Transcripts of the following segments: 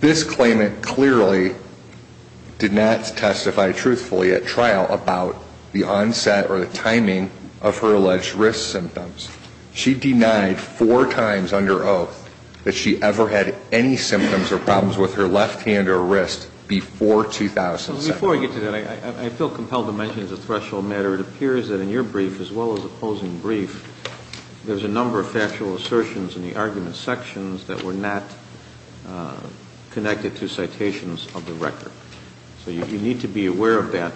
This claimant clearly did not testify truthfully at trial about the onset or the timing of her alleged risk symptoms. She denied four times under oath that she ever had any symptoms or problems with her left hand or wrist before 2007. Before I get to that, I feel compelled to mention as a threshold matter, it appears that in your brief, as well as opposing brief, there's a number of factual assertions in the argument sections that were not connected to citations of the record. So you need to be aware of that.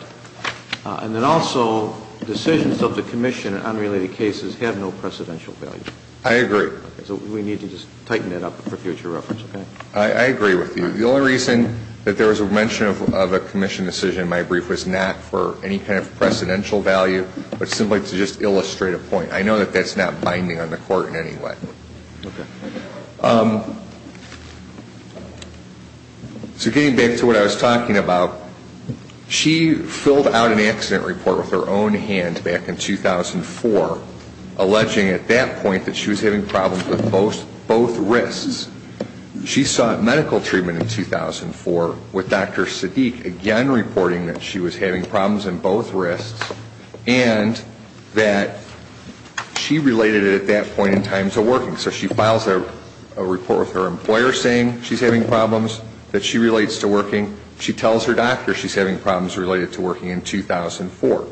And then also, decisions of the Commission in unrelated cases have no precedential value. I agree. So we need to just tighten that up for future reference, okay? I agree with you. The only reason that there was a mention of a Commission decision in my brief was not for any kind of precedential value, but simply to just illustrate a point. I know that that's not binding on the Court in any way. So getting back to what I was talking about, she filled out an accident report with her own hands back in 2004, alleging at that point that she was having problems with both wrists. She sought medical treatment in 2004 with Dr. Sadiq, again reporting that she was having problems in both wrists and that she related it at that point in time to working. So she files a report with her employer saying she's having problems, that she relates to working. She tells her doctor she's having problems related to working in 2004.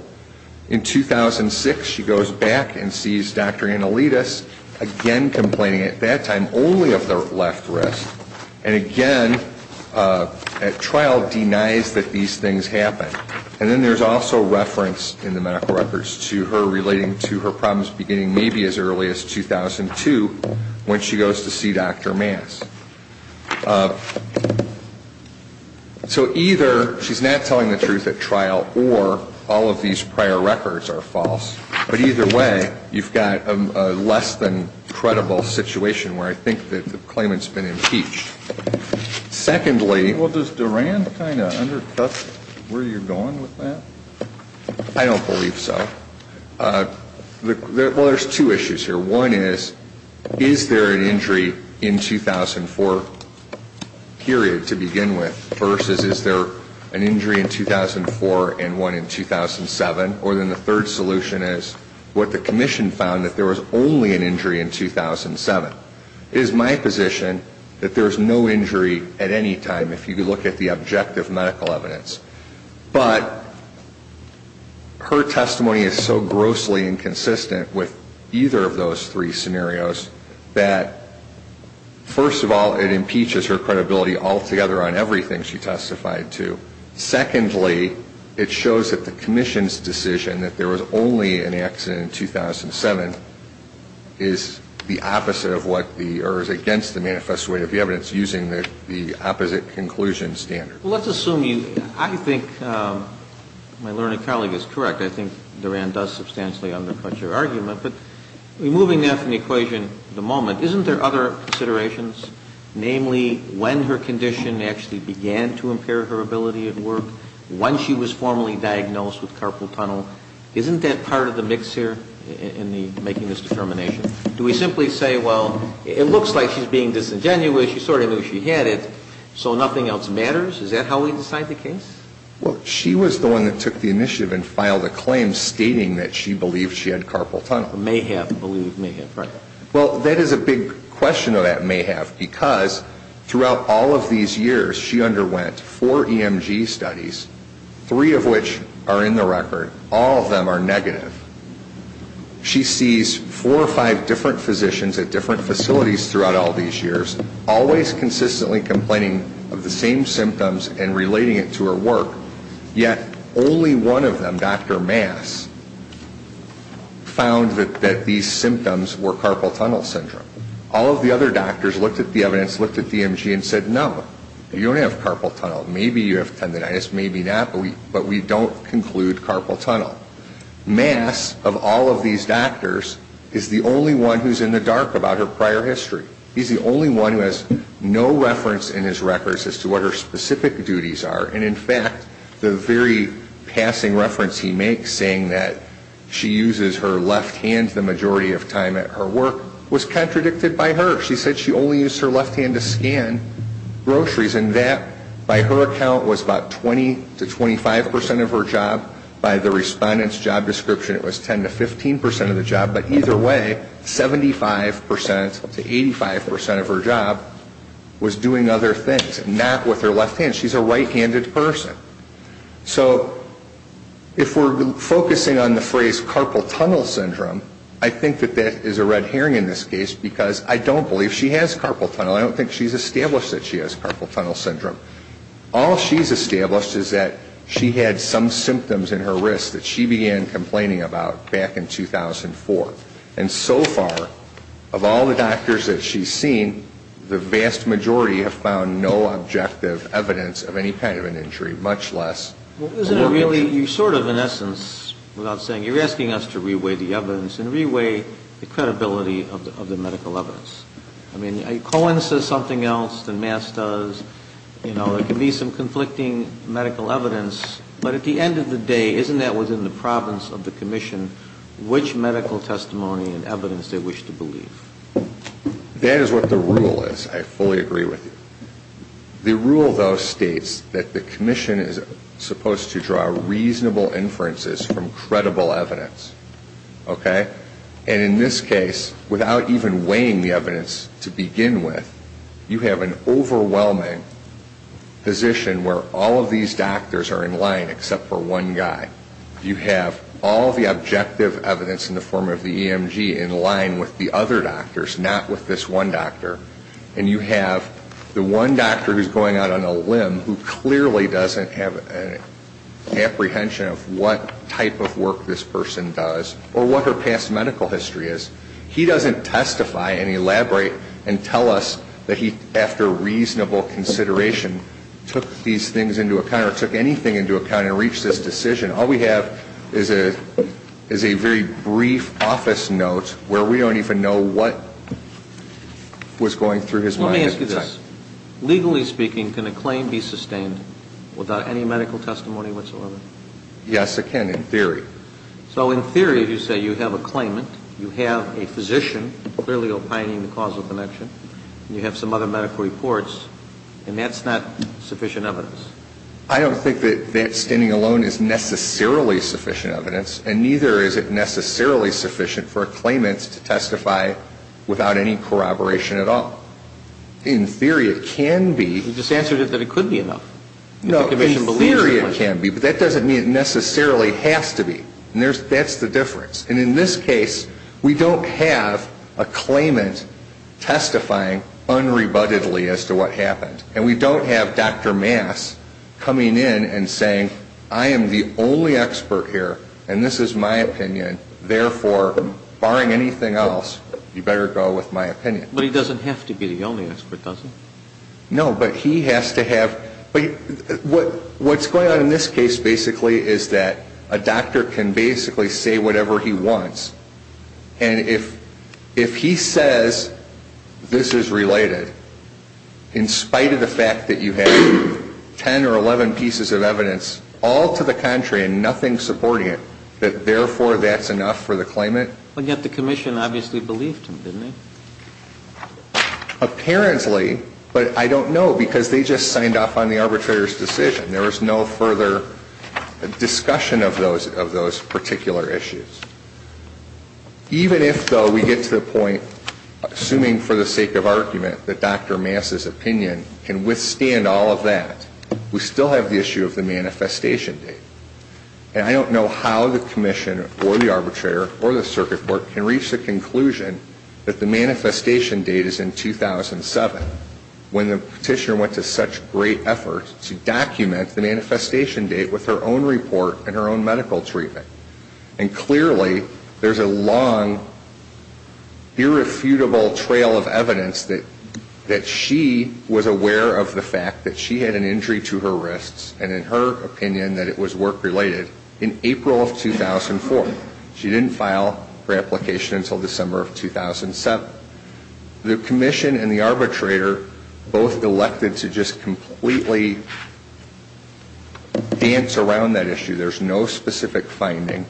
In 2006, she goes back and sees Dr. Analidis, again complaining at that time only of the left wrist, and again at trial denies that these things happened. And then there's also reference in the medical records to her relating to her problems beginning maybe as early as 2002 when she goes to see Dr. Mance. So either she's not telling the truth at trial or all of these prior records are false. But either way, you've got a less-than-credible situation where I think that the claimant's been impeached. Secondly ñ Well, does Durand kind of undercut where you're going with that? I don't believe so. Well, there's two issues here. One is, is there an injury in 2004, period, to begin with, versus is there an injury in 2004 and one in 2007? Or then the third solution is what the commission found, that there was only an injury in 2007. It is my position that there is no injury at any time if you look at the objective medical evidence. But her testimony is so grossly inconsistent with either of those three scenarios that, first of all, it impeaches her credibility altogether on everything she testified to. Secondly, it shows that the commission's decision that there was only an accident in 2007 is the opposite of what the ñ or is against the manifest way of the evidence using the opposite conclusion standard. Well, let's assume you ñ I think my learned colleague is correct. I think Durand does substantially undercut your argument. But removing that from the equation at the moment, isn't there other considerations, namely when her condition actually began to impair her ability at work, when she was formally diagnosed with carpal tunnel? Isn't that part of the mix here in the making this determination? Do we simply say, well, it looks like she's being disingenuous. You sort of knew she had it, so nothing else matters? Is that how we decide the case? Well, she was the one that took the initiative and filed a claim stating that she believed she had carpal tunnel. May have believed may have, right. Well, that is a big question of that may have, because throughout all of these years, she underwent four EMG studies, three of which are in the record. All of them are negative. She sees four or five different physicians at different facilities throughout all these years, always consistently complaining of the same symptoms and relating it to her work, yet only one of them, Dr. Mass, found that these symptoms were carpal tunnel syndrome. All of the other doctors looked at the evidence, looked at the EMG and said, no, you don't have carpal tunnel. Maybe you have tendonitis, maybe not, but we don't conclude carpal tunnel. Mass, of all of these doctors, is the only one who's in the dark about her prior history. He's the only one who has no reference in his records as to what her specific duties are, and in fact, the very passing reference he makes saying that she uses her left hand the majority of time at her work was contradicted by her. She said she only used her left hand to scan groceries, and that, by her account, was about 20 to 25 percent of her job. By the respondent's job description, it was 10 to 15 percent of the job. But either way, 75 percent to 85 percent of her job was doing other things, not with her left hand. She's a right-handed person. So if we're focusing on the phrase carpal tunnel syndrome, I think that that is a red herring in this case because I don't believe she has carpal tunnel. I don't think she's established that she has carpal tunnel syndrome. All she's established is that she had some symptoms in her wrist that she began complaining about back in 2004. And so far, of all the doctors that she's seen, the vast majority have found no objective evidence of any kind of an injury, much less. Well, isn't it really you sort of, in essence, without saying, you're asking us to re-weigh the evidence and re-weigh the credibility of the medical evidence. I mean, Cohen says something else than Mass does. You know, there can be some conflicting medical evidence. But at the end of the day, isn't that within the province of the commission, which medical testimony and evidence they wish to believe? That is what the rule is. I fully agree with you. The rule, though, states that the commission is supposed to draw reasonable inferences from credible evidence. Okay? And in this case, without even weighing the evidence to begin with, you have an overwhelming position where all of these doctors are in line except for one guy. You have all the objective evidence in the form of the EMG in line with the other doctors, not with this one doctor. And you have the one doctor who's going out on a limb, who clearly doesn't have an apprehension of what type of work this person does or what her past medical history is. He doesn't testify and elaborate and tell us that he, after reasonable consideration, took these things into account or took anything into account and reached this decision. All we have is a very brief office note where we don't even know what was going through his mind at the time. Let me ask you this. Legally speaking, can a claim be sustained without any medical testimony whatsoever? Yes, it can, in theory. So in theory, if you say you have a claimant, you have a physician clearly opining the causal connection, and you have some other medical reports, and that's not sufficient evidence? I don't think that that standing alone is necessarily sufficient evidence, and neither is it necessarily sufficient for a claimant to testify without any corroboration at all. In theory, it can be. You just answered it that it could be enough. No, in theory it can be, but that doesn't mean it necessarily has to be. And that's the difference. And in this case, we don't have a claimant testifying unrebuttedly as to what happened, and we don't have Dr. Mass coming in and saying, I am the only expert here, and this is my opinion, therefore, barring anything else, you better go with my opinion. But he doesn't have to be the only expert, does he? No, but he has to have. What's going on in this case basically is that a doctor can basically say whatever he wants, and if he says this is related, in spite of the fact that you have 10 or 11 pieces of evidence, all to the contrary and nothing supporting it, that therefore that's enough for the claimant? And yet the commission obviously believed him, didn't it? Apparently, but I don't know because they just signed off on the arbitrator's decision. There was no further discussion of those particular issues. Even if, though, we get to the point, assuming for the sake of argument, that Dr. Mass's opinion can withstand all of that, we still have the issue of the manifestation date. And I don't know how the commission or the arbitrator or the circuit court can reach the conclusion that the manifestation date is in 2007, when the petitioner went to such great effort to document the manifestation date with her own report and her own medical treatment. And clearly there's a long, irrefutable trail of evidence that she was aware of the fact that she had an injury to her wrists, and in her opinion that it was work-related, in April of 2004. She didn't file her application until December of 2007. The commission and the arbitrator both elected to just completely dance around that issue. There's no specific finding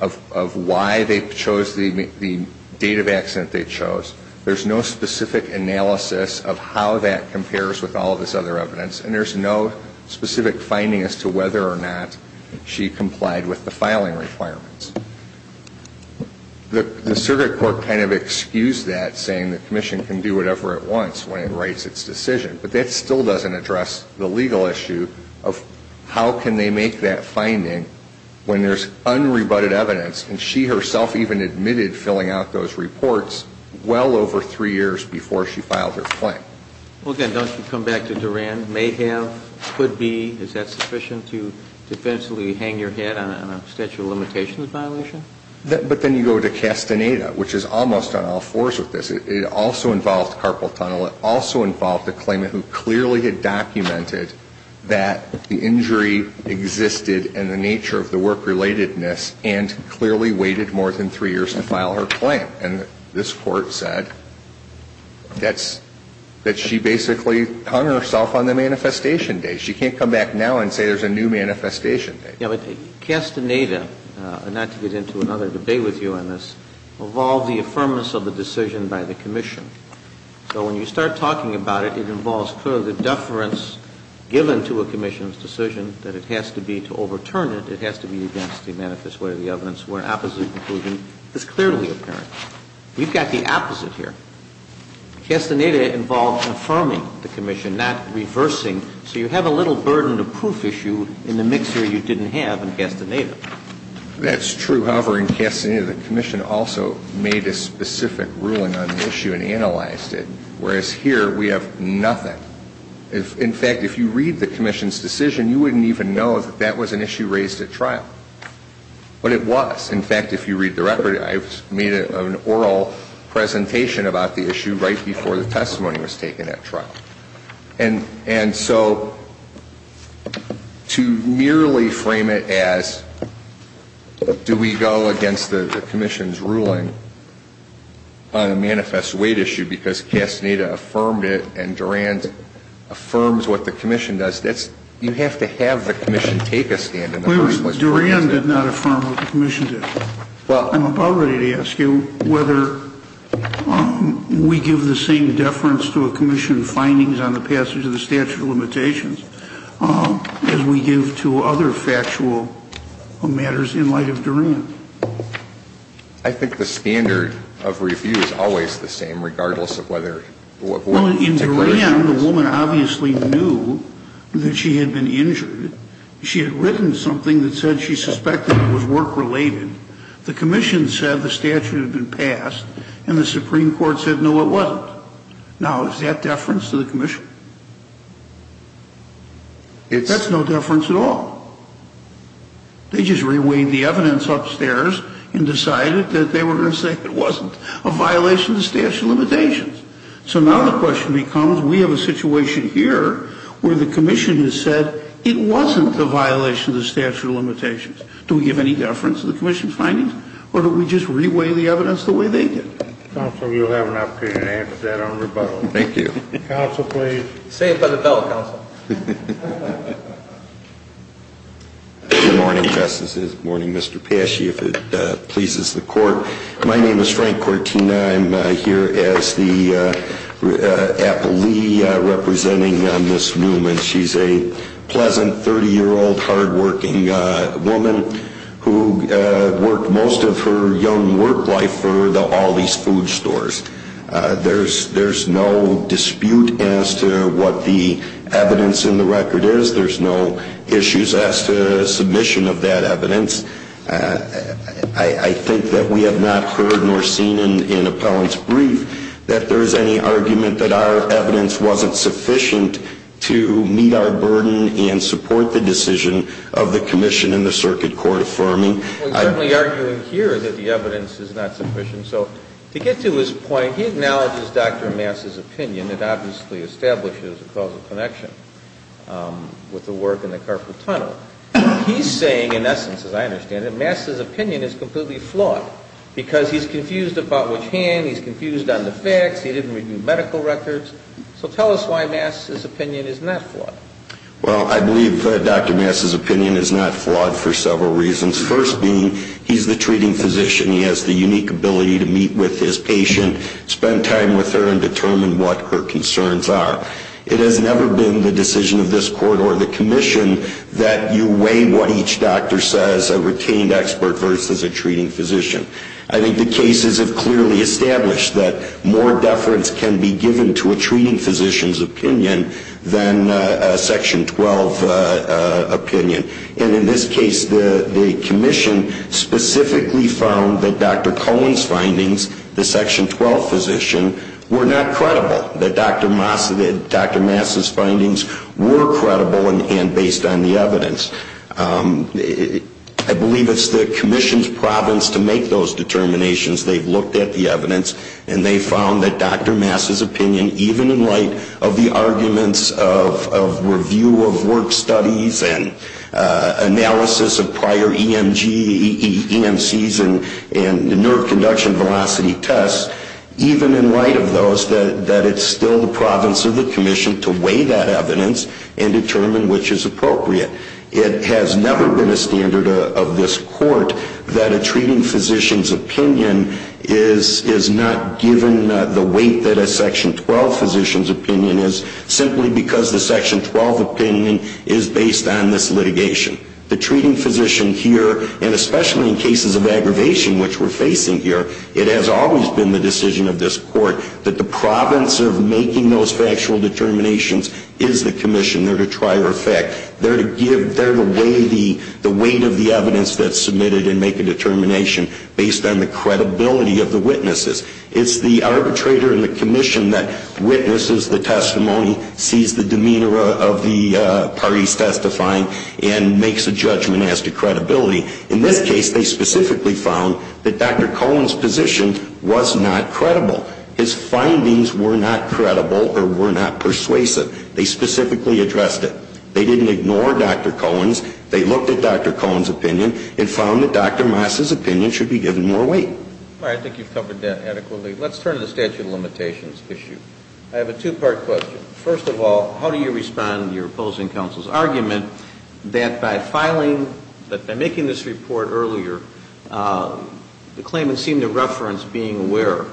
of why they chose the date of accident they chose. There's no specific analysis of how that compares with all of this other evidence. And there's no specific finding as to whether or not she complied with the filing requirements. The circuit court kind of excused that, saying the commission can do whatever it wants when it writes its decision. But that still doesn't address the legal issue of how can they make that finding when there's unrebutted evidence, and she herself even admitted filling out those reports well over three years before she filed her claim. Well, again, don't you come back to Duran. May have, could be. Is that sufficient to defensively hang your head on a statute of limitations violation? But then you go to Castaneda, which is almost on all fours with this. It also involved Carpal Tunnel. It also involved a claimant who clearly had documented that the injury existed and the nature of the work-relatedness and clearly waited more than three years to file her claim. And this Court said that's, that she basically hung herself on the manifestation day. She can't come back now and say there's a new manifestation day. Yeah, but Castaneda, and not to get into another debate with you on this, involved the affirmance of the decision by the commission. So when you start talking about it, it involves clearly the deference given to a commission's decision that it has to be to overturn it. It has to be against the manifest way of the evidence where an opposite conclusion is clearly apparent. You've got the opposite here. Castaneda involved affirming the commission, not reversing. So you have a little burden of proof issue in the mix here you didn't have in Castaneda. That's true. However, in Castaneda, the commission also made a specific ruling on the issue and analyzed it, whereas here we have nothing. In fact, if you read the commission's decision, you wouldn't even know that that was an issue raised at trial. But it was. In fact, if you read the record, I made an oral presentation about the issue right before the testimony was taken at trial. And so to merely frame it as, do we go against the commission's ruling on a manifest weight issue because Castaneda affirmed it and Durand affirms what the commission does, you have to have the commission take a stand. Durand did not affirm what the commission did. Well, I'm about ready to ask you whether we give the same deference to a commission's findings on the passage of the statute of limitations as we give to other factual matters in light of Durand. I think the standard of review is always the same, regardless of whether the woman in particular. In Durand, the woman obviously knew that she had been injured. She had written something that said she suspected it was work-related. The commission said the statute had been passed, and the Supreme Court said, no, it wasn't. Now, is that deference to the commission? That's no deference at all. They just reweighed the evidence upstairs and decided that they were going to say it wasn't a violation of the statute of limitations. So now the question becomes, we have a situation here where the commission has said it wasn't a violation of the statute of limitations. Do we give any deference to the commission's findings, or do we just reweigh the evidence the way they did? Counsel, you'll have an opportunity to answer that on rebuttal. Thank you. Counsel, please. Say it by the bell, Counsel. Good morning, Justices. Good morning, Mr. Pesci, if it pleases the Court. My name is Frank Cortina. I'm here as the appellee representing Ms. Newman. She's a pleasant 30-year-old hardworking woman who worked most of her young work life for all these food stores. There's no dispute as to what the evidence in the record is. There's no issues as to submission of that evidence. I think that we have not heard nor seen in appellant's brief that there is any argument that our evidence wasn't sufficient to meet our burden and support the decision of the commission and the circuit court affirming. We're certainly arguing here that the evidence is not sufficient. So to get to his point, he acknowledges Dr. Mass's opinion. It obviously establishes a causal connection with the work in the Carpool Tunnel. He's saying, in essence, as I understand it, Mass's opinion is completely flawed because he's confused about which hand, he's confused on the facts, he didn't review medical records. So tell us why Mass's opinion is not flawed. Well, I believe Dr. Mass's opinion is not flawed for several reasons. First being, he's the treating physician. He has the unique ability to meet with his patient, spend time with her, and determine what her concerns are. It has never been the decision of this court or the commission that you weigh what each doctor says, a retained expert versus a treating physician. I think the cases have clearly established that more deference can be given to a treating physician's opinion than a Section 12 opinion. And in this case, the commission specifically found that Dr. Cohen's findings, the Section 12 physician, were not credible, that Dr. Mass's findings were credible and based on the evidence. I believe it's the commission's province to make those determinations. They've looked at the evidence, and they found that Dr. Mass's opinion, even in light of the arguments of review of work studies and analysis of prior EMGs and EMCs and the nerve conduction velocity tests, even in light of those, that it's still the province of the commission to weigh that evidence and determine which is appropriate. It has never been a standard of this court that a treating physician's opinion is not given the weight that a Section 12 physician's opinion is, simply because the Section 12 opinion is based on this litigation. The treating physician here, and especially in cases of aggravation, which we're facing here, it has always been the decision of this court that the province of making those factual determinations is the commission there to try or affect. They're the weight of the evidence that's submitted and make a determination based on the credibility of the witnesses. It's the arbitrator and the commission that witnesses the testimony, sees the demeanor of the parties testifying, and makes a judgment as to credibility. In this case, they specifically found that Dr. Cohen's position was not credible. His findings were not credible or were not persuasive. They specifically addressed it. They didn't ignore Dr. Cohen's. They looked at Dr. Cohen's opinion and found that Dr. Mass's opinion should be given more weight. All right. I think you've covered that adequately. Let's turn to the statute of limitations issue. I have a two-part question. First of all, how do you respond to your opposing counsel's argument that by filing, that by making this report earlier, the claimant seemed to reference being aware,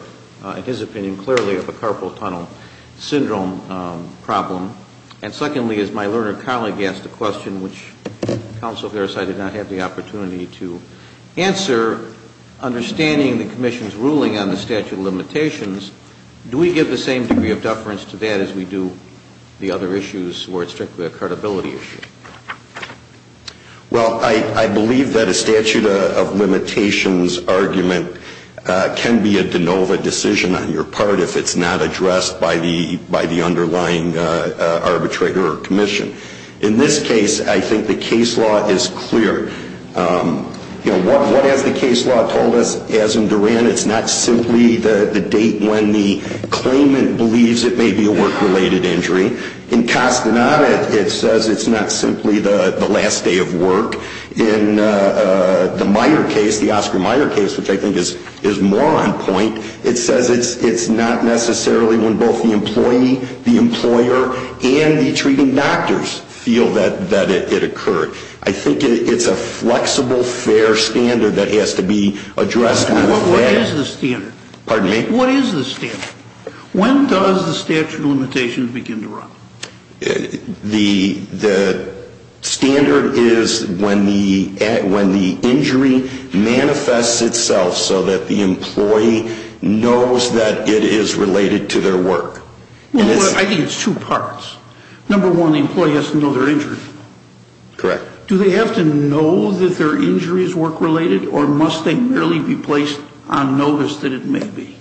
in his opinion, clearly of a carpal tunnel syndrome problem? And secondly, as my learned colleague asked the question, which counsel Farris, I did not have the opportunity to answer, understanding the commission's ruling on the statute of limitations, do we give the same degree of deference to that as we do the other issues where it's strictly a credibility issue? Well, I believe that a statute of limitations argument can be a de novo decision on your part if it's not addressed by the underlying arbitrator or commission. In this case, I think the case law is clear. You know, what has the case law told us? As in Duran, it's not simply the date when the claimant believes it may be a work-related injury. In Castaneda, it says it's not simply the last day of work. In the Meyer case, the Oscar Meyer case, which I think is more on point, it says it's not necessarily when both the employee, the employer, and the treating doctors feel that it occurred. I think it's a flexible, fair standard that has to be addressed. What is the standard? Pardon me? What is the standard? When does the statute of limitations begin to run? The standard is when the injury manifests itself so that the employee knows that it is related to their work. I think it's two parts. Number one, the employee has to know they're injured. Correct. Do they have to know that their injury is work-related, or must they merely be placed on notice that it may be?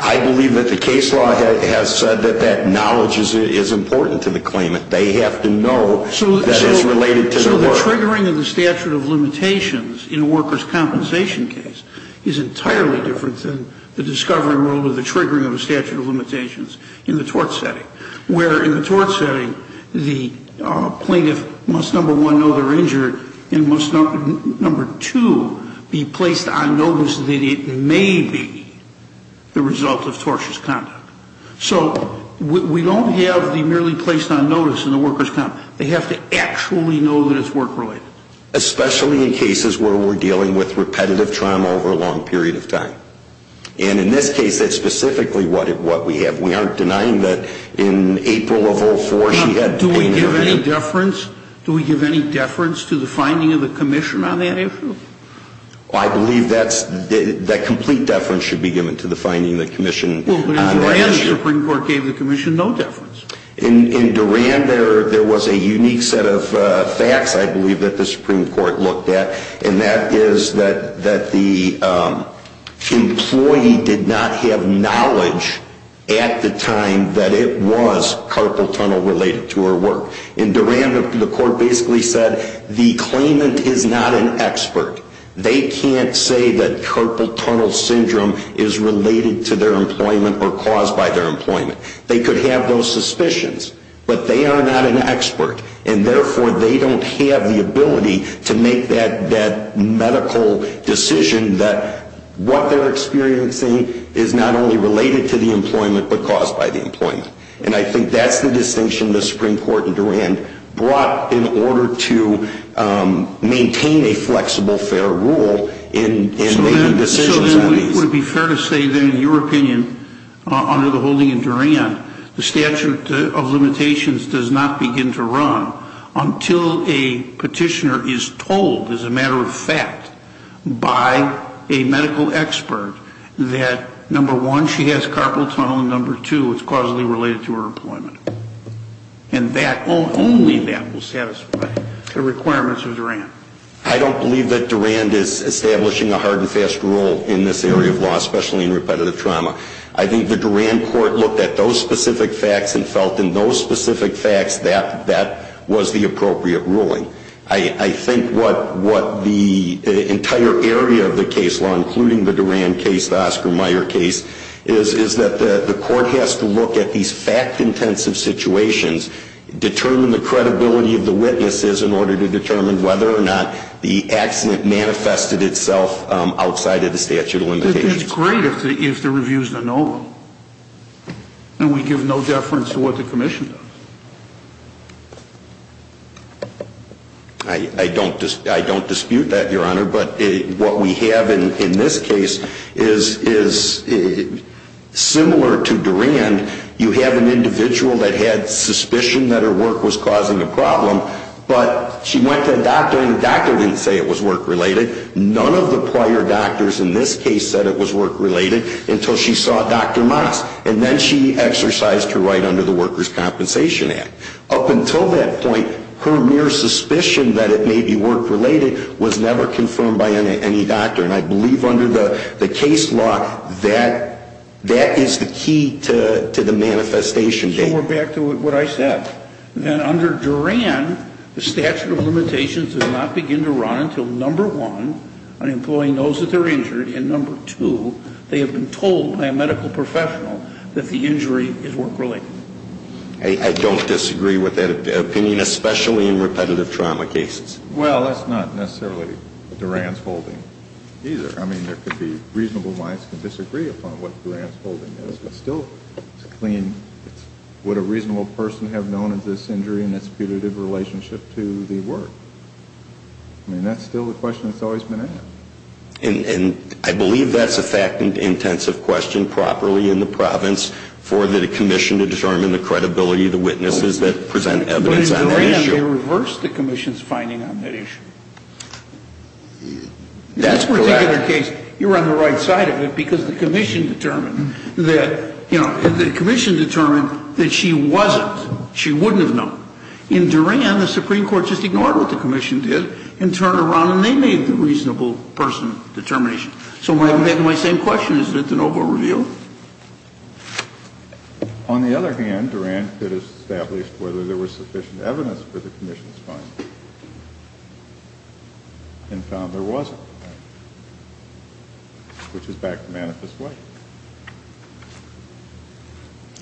I believe that the case law has said that that knowledge is important to the claimant. They have to know that it's related to their work. So the triggering of the statute of limitations in a worker's compensation case is entirely different than the discovery of the triggering of the statute of limitations in the tort setting, where in the tort setting the plaintiff must, number one, know they're injured, and must, number two, be placed on notice that it may be the result of tortious conduct. So we don't have the merely placed on notice in the worker's compensation. They have to actually know that it's work-related. Especially in cases where we're dealing with repetitive trauma over a long period of time. And in this case, that's specifically what we have. We aren't denying that in April of 04 she had pain in her foot. Do we give any deference to the finding of the commission on that issue? I believe that complete deference should be given to the finding of the commission on that issue. Well, but in Duran the Supreme Court gave the commission no deference. In Duran there was a unique set of facts, I believe, that the Supreme Court looked at, and that is that the employee did not have knowledge at the time that it was carpal tunnel related to her work. In Duran the court basically said the claimant is not an expert. They can't say that carpal tunnel syndrome is related to their employment or caused by their employment. They could have those suspicions, but they are not an expert. And, therefore, they don't have the ability to make that medical decision that what they're experiencing is not only related to the employment but caused by the employment. And I think that's the distinction the Supreme Court in Duran brought in order to maintain a flexible, fair rule in making decisions on these. Would it be fair to say, then, in your opinion, under the holding in Duran, the statute of limitations does not begin to run until a petitioner is told, as a matter of fact, by a medical expert that, number one, she has carpal tunnel, and, number two, it's causally related to her employment. And only that will satisfy the requirements of Duran. I don't believe that Duran is establishing a hard and fast rule in this area of law, especially in repetitive trauma. I think the Duran court looked at those specific facts and felt in those specific facts that that was the appropriate ruling. I think what the entire area of the case law, including the Duran case, the Oscar Mayer case, is that the court has to look at these fact-intensive situations, determine the credibility of the witnesses in order to determine whether or not the accident manifested itself outside of the statute of limitations. But it's great if the review is anomalous and we give no deference to what the commission does. I don't dispute that, Your Honor, but what we have in this case is similar to Duran. You have an individual that had suspicion that her work was causing a problem, but she went to a doctor, and the doctor didn't say it was work-related. None of the prior doctors in this case said it was work-related until she saw Dr. Moss, and then she exercised her right under the Workers' Compensation Act. Up until that point, her mere suspicion that it may be work-related was never confirmed by any doctor. And I believe under the case law, that is the key to the manifestation data. So we're back to what I said, that under Duran, the statute of limitations does not begin to run until, number one, on employing those that are injured, and number two, they have been told by a medical professional that the injury is work-related. I don't disagree with that opinion, especially in repetitive trauma cases. Well, that's not necessarily Duran's holding either. I mean, there could be reasonable lines to disagree upon what Duran's holding is, but still it's a clean, what a reasonable person would have known as this injury and its punitive relationship to the work. I mean, that's still the question that's always been asked. And I believe that's a fact-intensive question properly in the province for the commission to determine the credibility of the witnesses that present evidence on that issue. But they reversed the commission's finding on that issue. In this particular case, you're on the right side of it because the commission determined that, you know, the commission determined that she wasn't, she wouldn't have known. In Duran, the Supreme Court just ignored what the commission did and turned around and they made the reasonable person determination. So I have my same question. Is it the noble review? On the other hand, Duran could have established whether there was sufficient evidence for the commission's finding and found there wasn't, which is back to manifest way.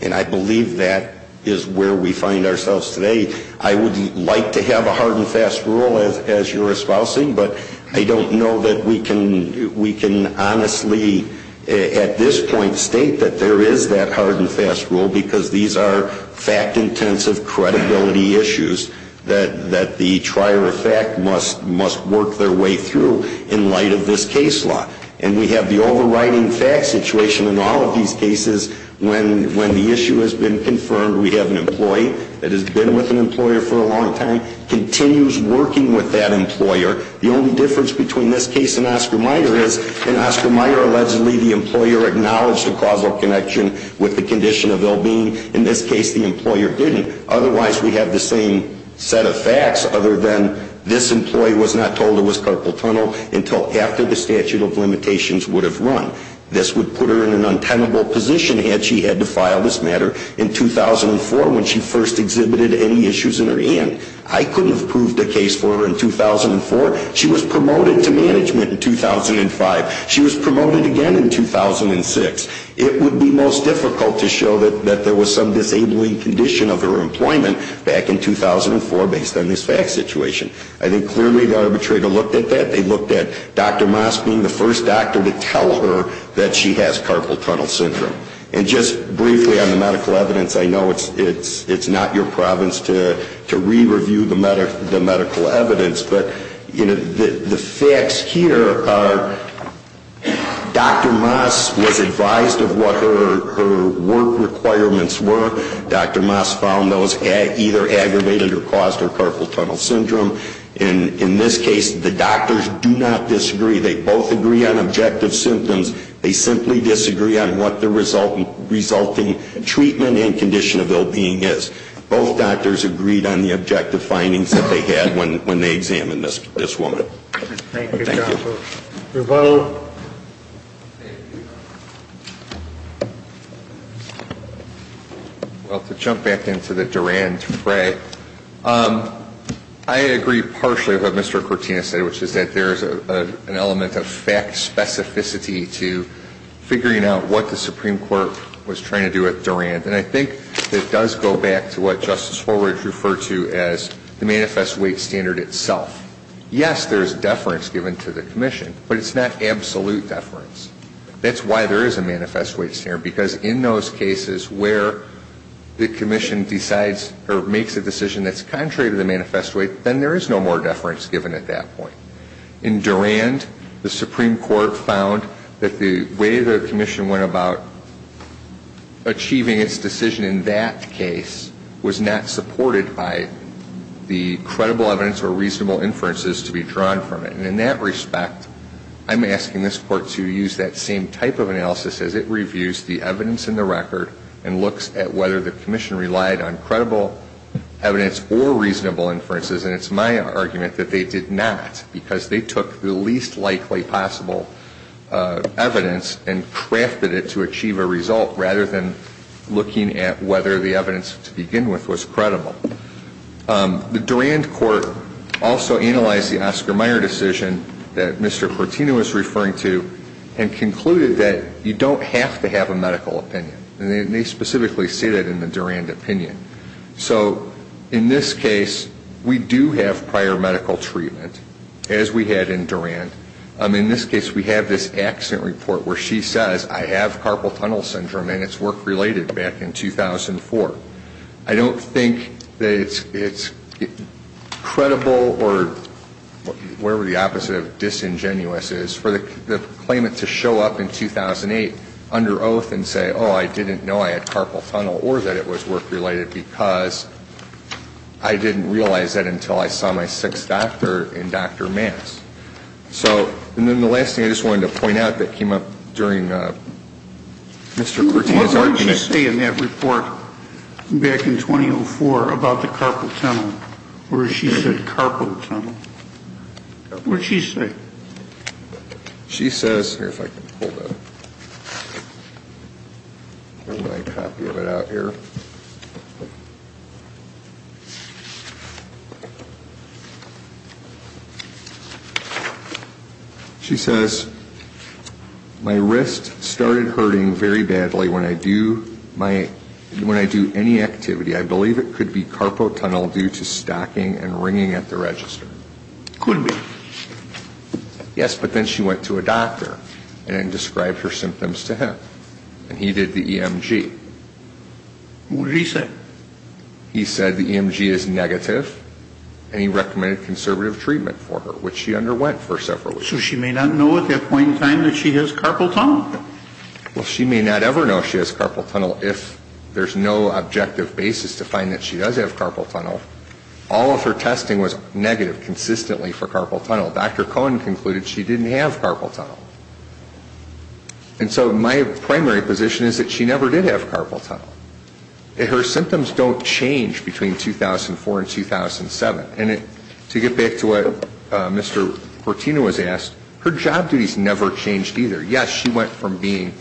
And I believe that is where we find ourselves today. I would like to have a hard and fast rule, as you're espousing, but I don't know that we can honestly at this point state that there is that hard and fast rule because these are fact-intensive credibility issues that the trier of fact must work their way through in light of this case law. And we have the overriding fact situation in all of these cases when the issue has been confirmed. We have an employee that has been with an employer for a long time, continues working with that employer. The only difference between this case and Oscar Meyer is in Oscar Meyer, allegedly the employer acknowledged a causal connection with the condition of ill-being. In this case, the employer didn't. Otherwise, we have the same set of facts other than this employee was not told it was carpal tunnel until after the statute of limitations would have run. This would put her in an untenable position had she had to file this matter in 2004 when she first exhibited any issues in her hand. I couldn't have proved a case for her in 2004. She was promoted to management in 2005. She was promoted again in 2006. It would be most difficult to show that there was some disabling condition of her employment back in 2004 based on this fact situation. I think clearly the arbitrator looked at that. They looked at Dr. Mosk being the first doctor to tell her that she has carpal tunnel syndrome. And just briefly on the medical evidence, I know it's not your province to re-review the medical evidence, but the facts here are Dr. Mosk was advised of what her work requirements were. Dr. Mosk found those either aggravated or caused her carpal tunnel syndrome. In this case, the doctors do not disagree. They both agree on objective symptoms. They simply disagree on what the resulting treatment and condition of ill-being is. Both doctors agreed on the objective findings that they had when they examined this woman. Thank you. Thank you, counsel. Your vote? Thank you. Well, to jump back into the Durand-Frey, I agree partially with what Mr. Cortina said, which is that there is an element of fact specificity to figuring out what the Supreme Court was trying to do with Durand. And I think it does go back to what Justice Horwitz referred to as the manifest weight standard itself. Yes, there is deference given to the commission, but it's not absolute deference. That's why there is a manifest weight standard, because in those cases where the commission decides or makes a decision that's contrary to the manifest weight, then there is no more deference given at that point. In Durand, the Supreme Court found that the way the commission went about achieving its decision in that case was not supported by the credible evidence or reasonable inferences to be drawn from it. And in that respect, I'm asking this Court to use that same type of analysis as it reviews the evidence in the record and looks at whether the commission relied on credible evidence or reasonable inferences. And it's my argument that they did not, because they took the least likely possible evidence and crafted it to achieve a result rather than looking at whether the evidence to begin with was credible. The Durand court also analyzed the Oscar Mayer decision that Mr. Cortina was referring to and concluded that you don't have to have a medical opinion. And they specifically say that in the Durand opinion. So in this case, we do have prior medical treatment, as we had in Durand. In this case, we have this accident report where she says, I have carpal tunnel syndrome and it's work-related back in 2004. I don't think that it's credible, or whatever the opposite of disingenuous is, for the claimant to show up in 2008 under oath and say, oh, I didn't know I had carpal tunnel or that it was work-related because I didn't realize that until I saw my sixth doctor in Dr. Mance. So, and then the last thing I just wanted to point out that came up during Mr. Cortina's argument. What did she say in that report back in 2004 about the carpal tunnel? Where she said carpal tunnel? What did she say? She says, here, if I can pull that. Get my copy of it out here. She says, my wrist started hurting very badly when I do my, when I do any activity. I believe it could be carpal tunnel due to stocking and ringing at the register. Could be. Yes, but then she went to a doctor and described her symptoms to him, and he did the EMG. What did he say? He said the EMG is negative, and he recommended conservative treatment for her, which she underwent for several weeks. So she may not know at that point in time that she has carpal tunnel? Well, she may not ever know she has carpal tunnel if there's no objective basis to find that she does have carpal tunnel. All of her testing was negative consistently for carpal tunnel. Dr. Cohen concluded she didn't have carpal tunnel. And so my primary position is that she never did have carpal tunnel. Her symptoms don't change between 2004 and 2007. And to get back to what Mr. Portino has asked, her job duties never changed either. Yes, she went from being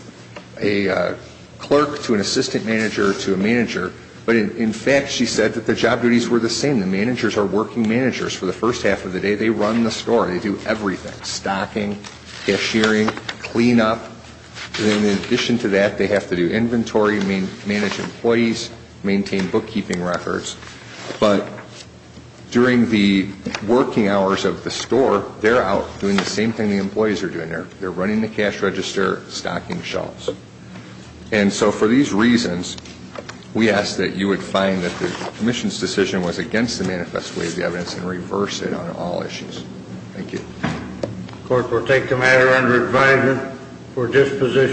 a clerk to an assistant manager to a manager. But, in fact, she said that the job duties were the same. The managers are working managers for the first half of the day. They run the store. They do everything, stocking, cashiering, cleanup. And in addition to that, they have to do inventory, manage employees, maintain bookkeeping records. But during the working hours of the store, they're out doing the same thing the employees are doing. They're running the cash register, stocking shelves. And so for these reasons, we ask that you would find that the commission's decision was against the manifest way of the evidence and reverse it on all issues. Thank you. The court will take the matter under advisement for disposition.